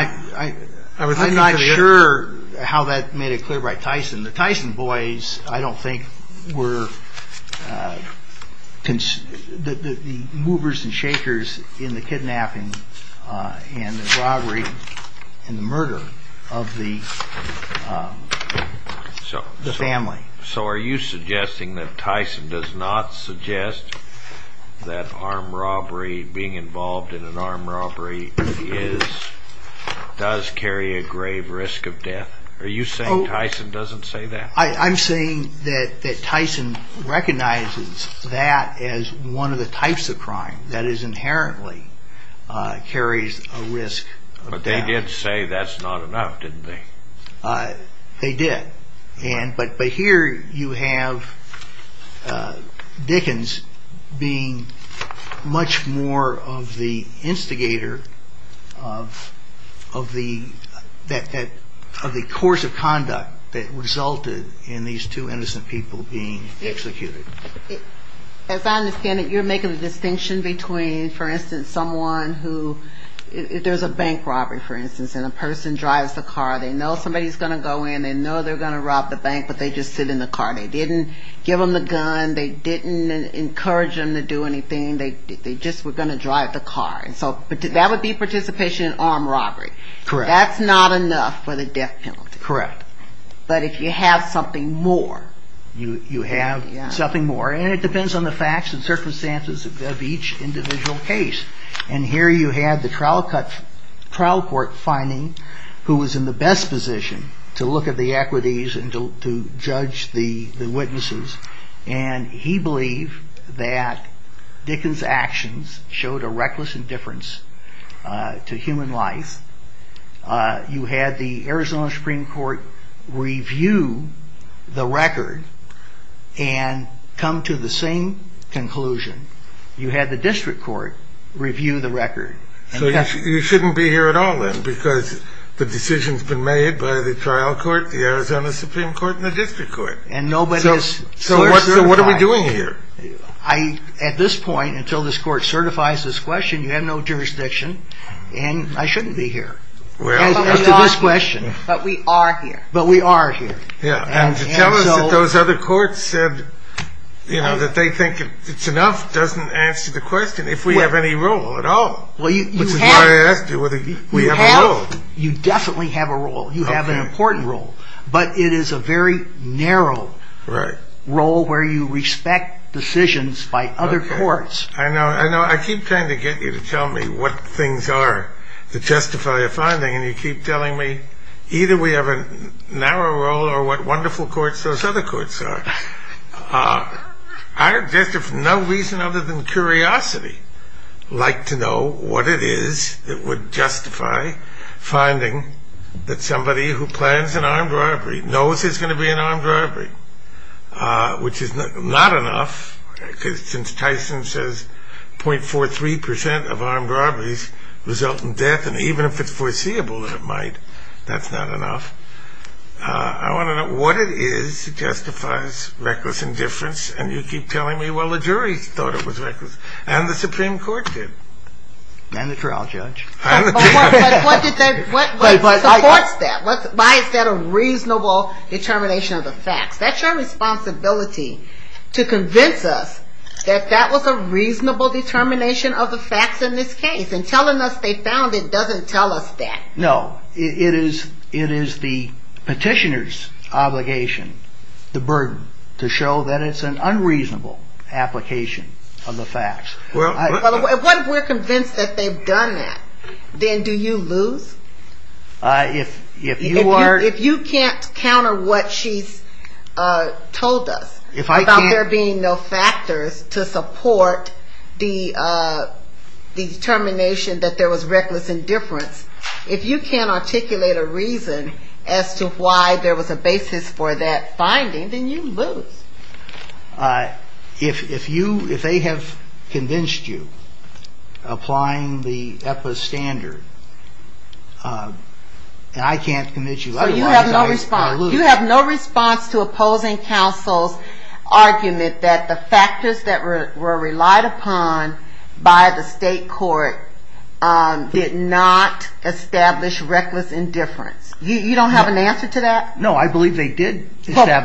not sure how that made it clear by Tyson. The Tyson boys I don't think were the movers and shakers in the kidnapping and the robbery and the murder of the family. So are you suggesting that Tyson does not suggest that armed robbery, being involved in an armed robbery, does carry a grave risk of death? Are you saying Tyson doesn't say that? I'm saying that Tyson recognizes that as one of the types of crime that is inherently carries a risk of death. But they did say that's not enough, didn't they? They did. But here you have Dickens being much more of the instigator of the course of conduct that resulted in these two innocent people being executed. As I understand it, you're making a distinction between, for instance, someone who, if there's a bank robbery, for instance, and a person drives the car, they know somebody's going to go in, they know they're going to rob the bank, but they just sit in the car. They didn't give them the gun. They didn't encourage them to do anything. They just were going to drive the car. So that would be participation in an armed robbery. That's not enough for the death penalty. Correct. But if you have something more. You have something more. And it depends on the facts and circumstances of each individual case. And here you have the trial court finding who was in the best position to look at the equities and to judge the witnesses. And he believed that Dickens' actions showed a reckless indifference to human life. You had the Arizona Supreme Court review the record and come to the same conclusion. You had the district court review the record. So you shouldn't be here at all, then, because the decision's been made by the trial court, the Arizona Supreme Court, and the district court. And nobody is certified. So what are we doing here? At this point, until this court certifies this question, you have no jurisdiction, and I shouldn't be here. As to this question. But we are here. But we are here. And to tell us that those other courts said that they think it's enough doesn't answer the question if we have any role at all. Which is why I asked you whether we have a role. You definitely have a role. You have an important role. But it is a very narrow role where you respect decisions by other courts. I know. I keep trying to get you to tell me what things are to justify a finding, and you keep telling me either we have a narrow role or what wonderful courts those other courts are. I, just for no reason other than curiosity, like to know what it is that would justify finding that somebody who plans an armed robbery knows there's going to be an armed robbery. Which is not enough, because since Tyson says .43% of armed robberies result in death, and even if it's foreseeable that it might, that's not enough. I want to know what it is that justifies reckless indifference. And you keep telling me, well, the jury thought it was reckless. And the Supreme Court did. And the trial judge. But what supports that? Why is that a reasonable determination of the facts? That's our responsibility to convince us that that was a reasonable determination of the facts in this case. And telling us they found it doesn't tell us that. No. It is the petitioner's obligation, the burden, to show that it's an unreasonable application of the facts. Well, if we're convinced that they've done that, then do you lose? If you can't counter what she's told us about there being no factors to support the determination that there was reckless indifference, if you can't articulate a reason as to why there was a basis for that finding, then you lose. If they have convinced you, applying the EPA standard, and I can't convince you otherwise I lose. So you have no response. You have no response to opposing counsel's argument that the factors that were relied upon by the state court did not establish reckless indifference. You don't have an answer to that?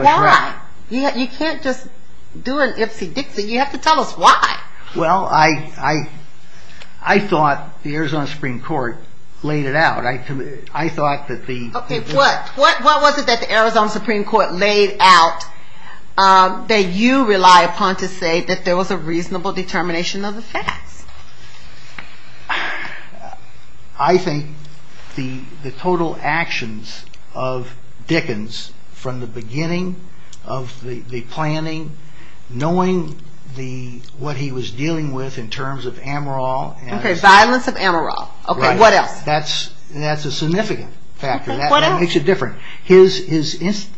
Why? You can't just do an ipsy-dipsy. You have to tell us why. Well, I thought the Arizona Supreme Court laid it out. I thought that the... Okay. What was it that the Arizona Supreme Court laid out that you rely upon to say that there was a reasonable determination of the facts? I think the total actions of Dickens from the beginning of the planning, knowing what he was dealing with in terms of Amaral... Okay, violence of Amaral. Right. Okay, what else? That's a significant factor. What else? That makes it different. His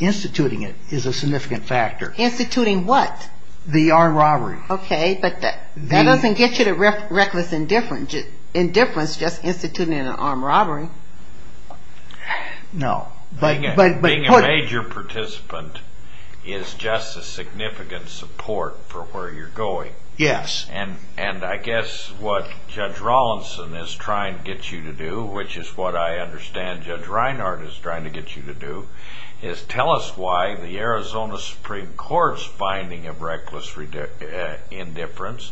instituting it is a significant factor. Instituting what? The armed robbery. Okay, but that doesn't get you to reckless indifference. Indifference just instituting an armed robbery. No. Being a major participant is just a significant support for where you're going. Yes. And I guess what Judge Rawlinson is trying to get you to do, which is what I understand Judge Reinhardt is trying to get you to do, is tell us why the Arizona Supreme Court's finding of reckless indifference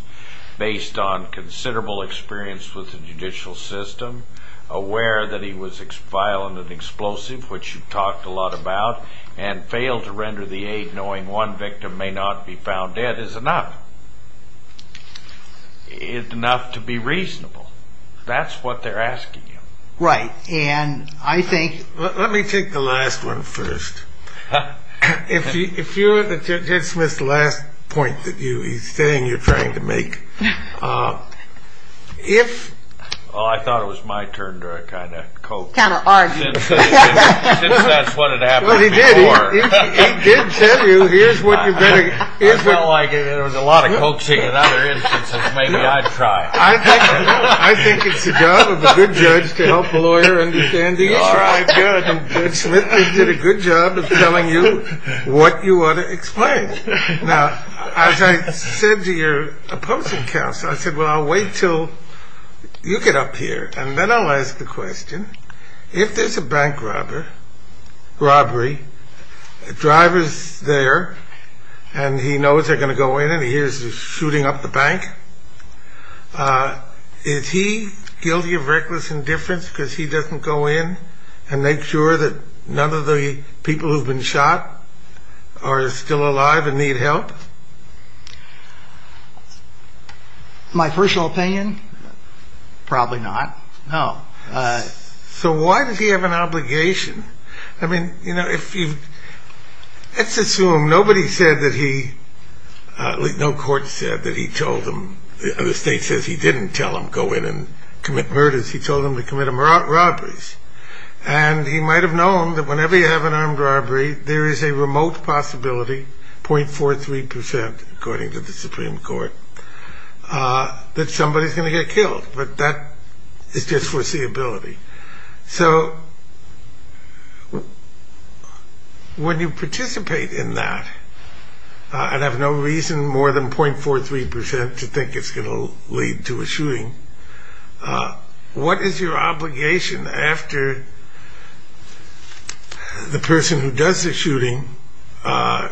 based on considerable experience with the judicial system, aware that he was violent and explosive, which you've talked a lot about, and fail to render the aid knowing one victim may not be found dead is enough. It's enough to be reasonable. That's what they're asking you. Right, and I think... Let me take the last one first. If you're... Judge Smith's last point that he's saying you're trying to make, if... Oh, I thought it was my turn to kind of cope. Kind of argue. Since that's what had happened before. Well, he did. He did tell you, here's what you better... I felt like there was a lot of coaching in other instances. Maybe I'd try. I think it's the job of a good judge to help a lawyer understand the issue. That's right. And Judge Smith did a good job of telling you what you ought to explain. Now, as I said to your opposing counsel, I said, well, I'll wait till you get up here, and then I'll ask the question. If there's a bank robbery, the driver's there, and he knows they're going to go in, and he hears the shooting up the bank. Is he guilty of reckless indifference because he doesn't go in and make sure that none of the people who've been shot are still alive and need help? My personal opinion, probably not. No. So why does he have an obligation? I mean, you know, if you... Let's assume nobody said that he... No court said that he told them... The state says he didn't tell them to go in and commit murders. He told them to commit robberies. And he might have known that whenever you have an armed robbery, there is a remote possibility, 0.43%, according to the Supreme Court, that somebody's going to get killed. But that is just foreseeability. So when you participate in that and have no reason more than 0.43% to think it's going to lead to a shooting, what is your obligation after the person who does the shooting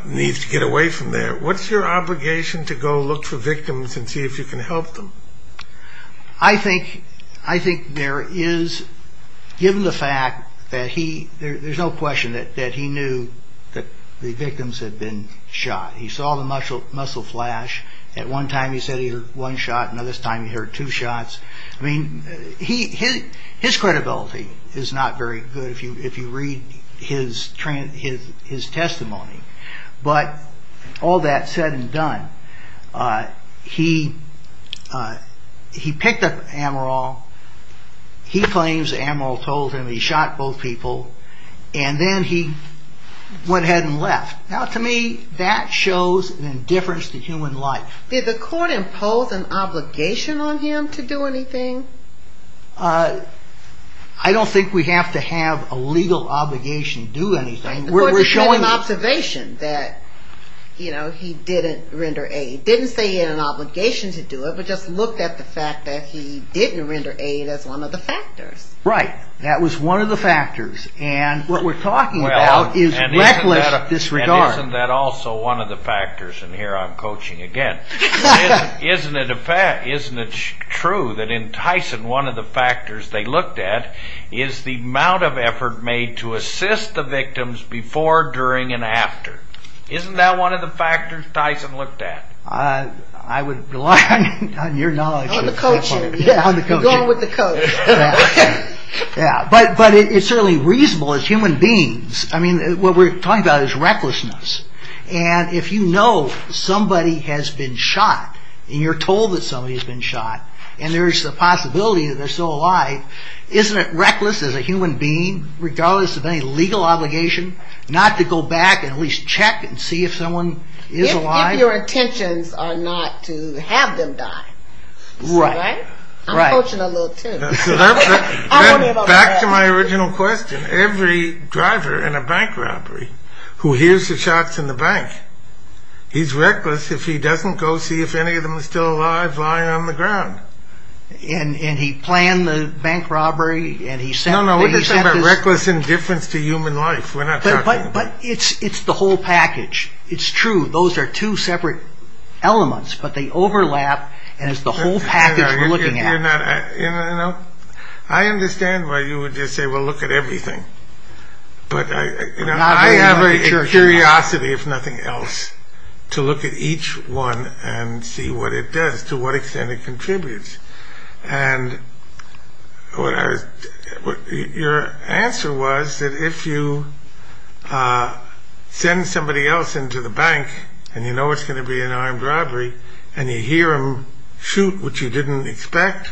needs to get away from there? What's your obligation to go look for victims and see if you can help them? I think there is, given the fact that he... There's no question that he knew that the victims had been shot. He saw the muscle flash. At one time, he said he heard one shot. Another time, he heard two shots. I mean, his credibility is not very good if you read his testimony. But all that said and done, he picked up Amaral. He claims Amaral told him he shot both people. And then he went ahead and left. Now, to me, that shows an indifference to human life. Did the court impose an obligation on him to do anything? I don't think we have to have a legal obligation to do anything. The court made an observation that he didn't render aid. It didn't say he had an obligation to do it, but just looked at the fact that he didn't render aid as one of the factors. Right. That was one of the factors. And what we're talking about is reckless disregard. Isn't that also one of the factors? And here I'm coaching again. Isn't it true that in Tyson, one of the factors they looked at is the amount of effort made to assist the victims before, during, and after? Isn't that one of the factors Tyson looked at? I would rely on your knowledge. On the coaching. Yeah, on the coaching. You're going with the coach. Yeah. But it's certainly reasonable as human beings. I mean, what we're talking about is recklessness. And if you know somebody has been shot, and you're told that somebody has been shot, and there's the possibility that they're still alive, isn't it reckless as a human being, regardless of any legal obligation, not to go back and at least check and see if someone is alive? If your intentions are not to have them die. Right. Right. I'm coaching a little too. Back to my original question. Every driver in a bank robbery who hears the shots in the bank, he's reckless if he doesn't go see if any of them are still alive lying on the ground. And he planned the bank robbery. No, no. We're just talking about reckless indifference to human life. We're not talking about... But it's the whole package. It's true. Those are two separate elements, but they overlap, and it's the whole package we're looking at. I understand why you would just say, well, look at everything. But I have a curiosity, if nothing else, to look at each one and see what it does, to what extent it contributes. And your answer was that if you send somebody else into the bank and you know it's going to be an armed robbery, and you hear them shoot, which you didn't expect,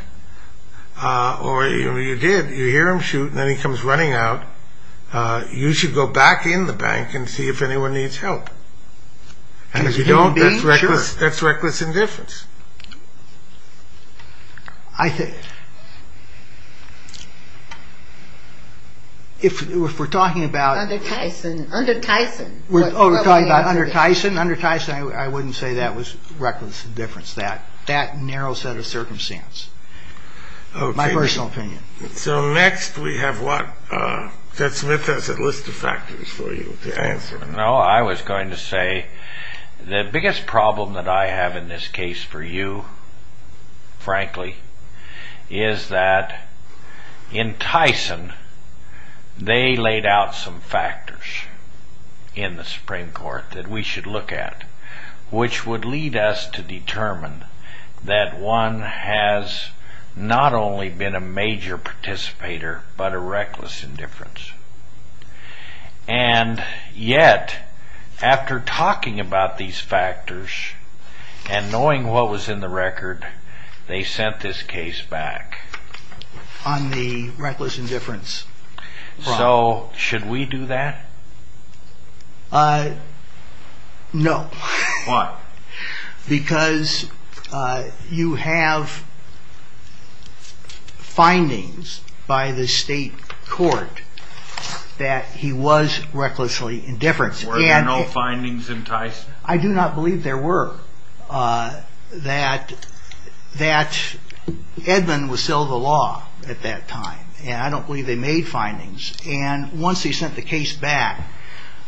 or you did, you hear them shoot, and then he comes running out, you should go back in the bank and see if anyone needs help. And if you don't, that's reckless indifference. If we're talking about... Under Tyson. Oh, we're talking about under Tyson? Under Tyson, I wouldn't say that was reckless indifference, that narrow set of circumstance, my personal opinion. So next we have what? Ted Smith has a list of factors for you to answer. No, I was going to say, the biggest problem that I have in this case for you, frankly, is that in Tyson, they laid out some factors in the Supreme Court that we should look at, which would lead us to determine that one has not only been a major participator, but a reckless indifference. And yet, after talking about these factors, and knowing what was in the record, they sent this case back. On the reckless indifference. So, should we do that? No. Why? Because you have findings by the state court that he was recklessly indifference. Were there no findings in Tyson? I do not believe there were. That Edmund was still the law at that time, and I don't believe they made findings. And once they sent the case back,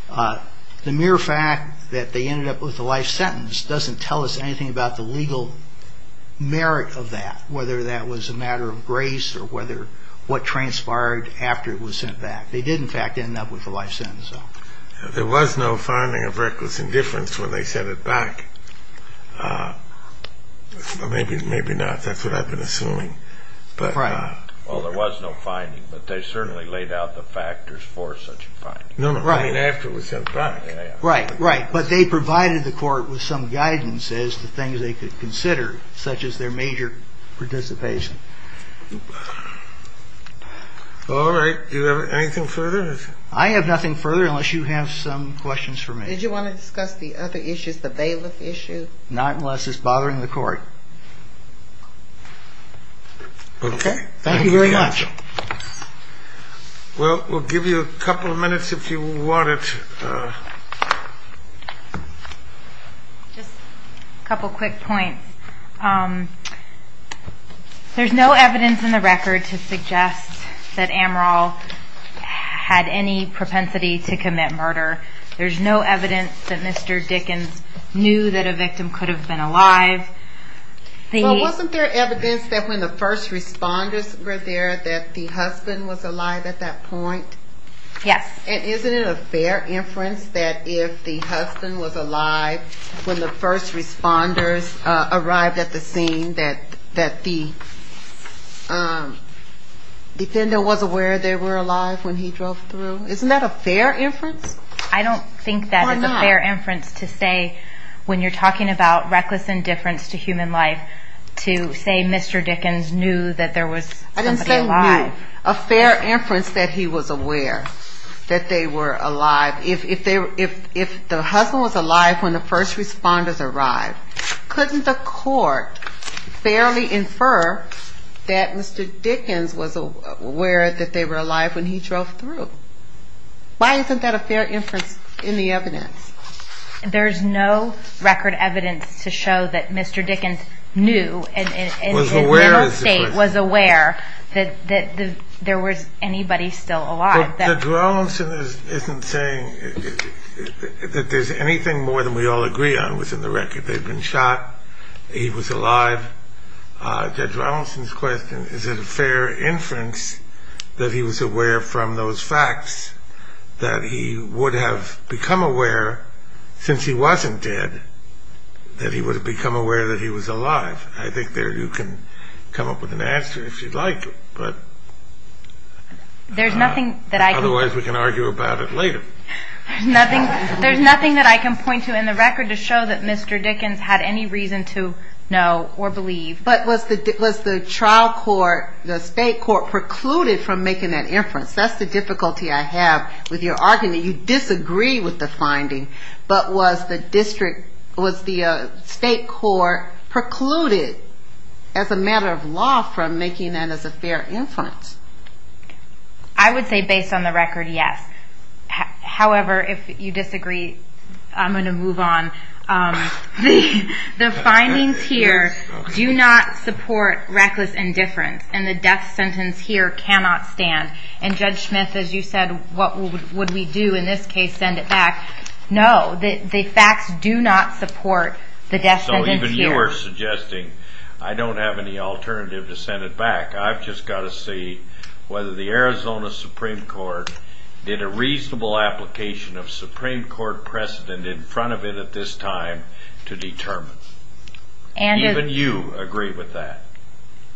the mere fact that they ended up with a life sentence doesn't tell us anything about the legal merit of that, whether that was a matter of grace, or what transpired after it was sent back. They did, in fact, end up with a life sentence. There was no finding of reckless indifference when they sent it back. Maybe not, that's what I've been assuming. Well, there was no finding, but they certainly laid out the factors for such a finding. No, no, I mean after it was sent back. Right, right. But they provided the court with some guidance as to things they could consider, such as their major participation. All right. Do you have anything further? I have nothing further unless you have some questions for me. Did you want to discuss the other issues, the bailiff issue? Not unless it's bothering the court. Okay. Thank you very much. Well, we'll give you a couple of minutes if you wanted to. Just a couple of quick points. There's no evidence in the record to suggest that Amaral had any propensity to commit murder. There's no evidence that Mr. Dickens knew that a victim could have been alive. Well, wasn't there evidence that when the first responders were there that the husband was alive at that point? Yes. And isn't it a fair inference that if the husband was alive when the first responders arrived at the scene, that the defender was aware they were alive when he drove through? Isn't that a fair inference? I don't think that is a fair inference to say when you're talking about reckless indifference to human life to say Mr. Dickens knew that there was somebody alive. I didn't say knew. A fair inference that he was aware that they were alive. If the husband was alive when the first responders arrived, couldn't the court fairly infer that Mr. Dickens was aware that they were alive when he drove through? Why isn't that a fair inference in the evidence? There's no record evidence to show that Mr. Dickens knew and in the middle state was aware that there was anybody still alive. Judge Rawlinson isn't saying that there's anything more than we all agree on within the record. They've been shot. He was alive. Judge Rawlinson's question, is it a fair inference that he was aware from those facts that he would have become aware since he wasn't dead that he would have become aware that he was alive? I think you can come up with an answer if you'd like, but otherwise we can argue about it later. There's nothing that I can point to in the record to show that Mr. Dickens had any reason to know or believe. But was the trial court, the state court, precluded from making that inference? That's the difficulty I have with your argument. You disagree with the finding, but was the state court precluded as a matter of law from making that as a fair inference? I would say based on the record, yes. However, if you disagree, I'm going to move on. The findings here do not support reckless indifference, and the death sentence here cannot stand. And Judge Smith, as you said, what would we do in this case, send it back? No, the facts do not support the death sentence here. So even you are suggesting, I don't have any alternative to send it back. I've just got to see whether the Arizona Supreme Court did a reasonable application of Supreme Court precedent in front of it at this time to determine. Even you agree with that.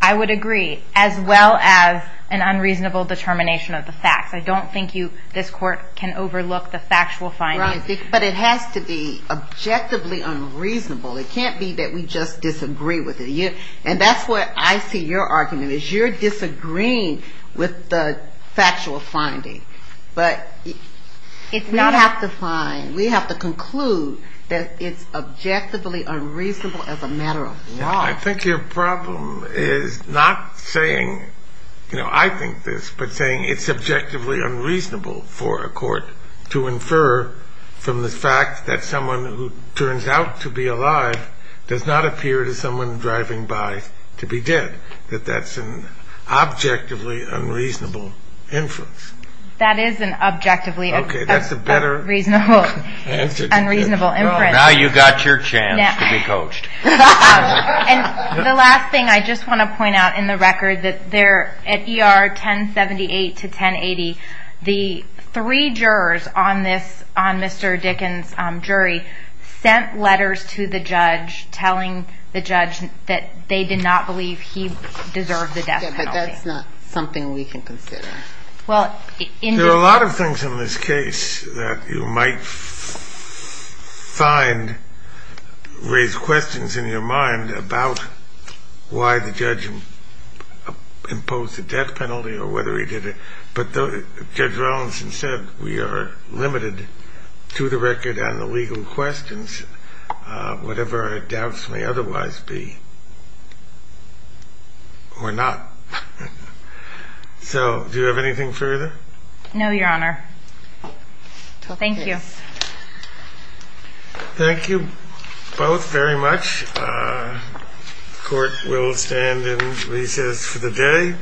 I would agree, as well as an unreasonable determination of the facts. I don't think this court can overlook the factual findings. But it has to be objectively unreasonable. It can't be that we just disagree with it. And that's where I see your argument, is you're disagreeing with the factual finding. But we have to find, we have to conclude that it's objectively unreasonable as a matter of law. I think your problem is not saying, you know, I think this, but saying it's objectively unreasonable for a court to infer from the fact that someone who turns out to be alive does not appear to someone driving by to be dead, that that's an objectively unreasonable inference. That is an objectively unreasonable inference. Now you've got your chance to be coached. And the last thing I just want to point out in the record, that at ER 1078 to 1080, the three jurors on Mr. Dickens' jury sent letters to the judge telling the judge that they did not believe he deserved the death penalty. Yeah, but that's not something we can consider. There are a lot of things in this case that you might find raise questions in your mind about why the judge imposed the death penalty or whether he did it. But Judge Rollins said we are limited to the record and the legal questions, whatever our doubts may otherwise be. Or not. So do you have anything further? No, Your Honor. Thank you. Thank you both very much. Court will stand in recess for the day.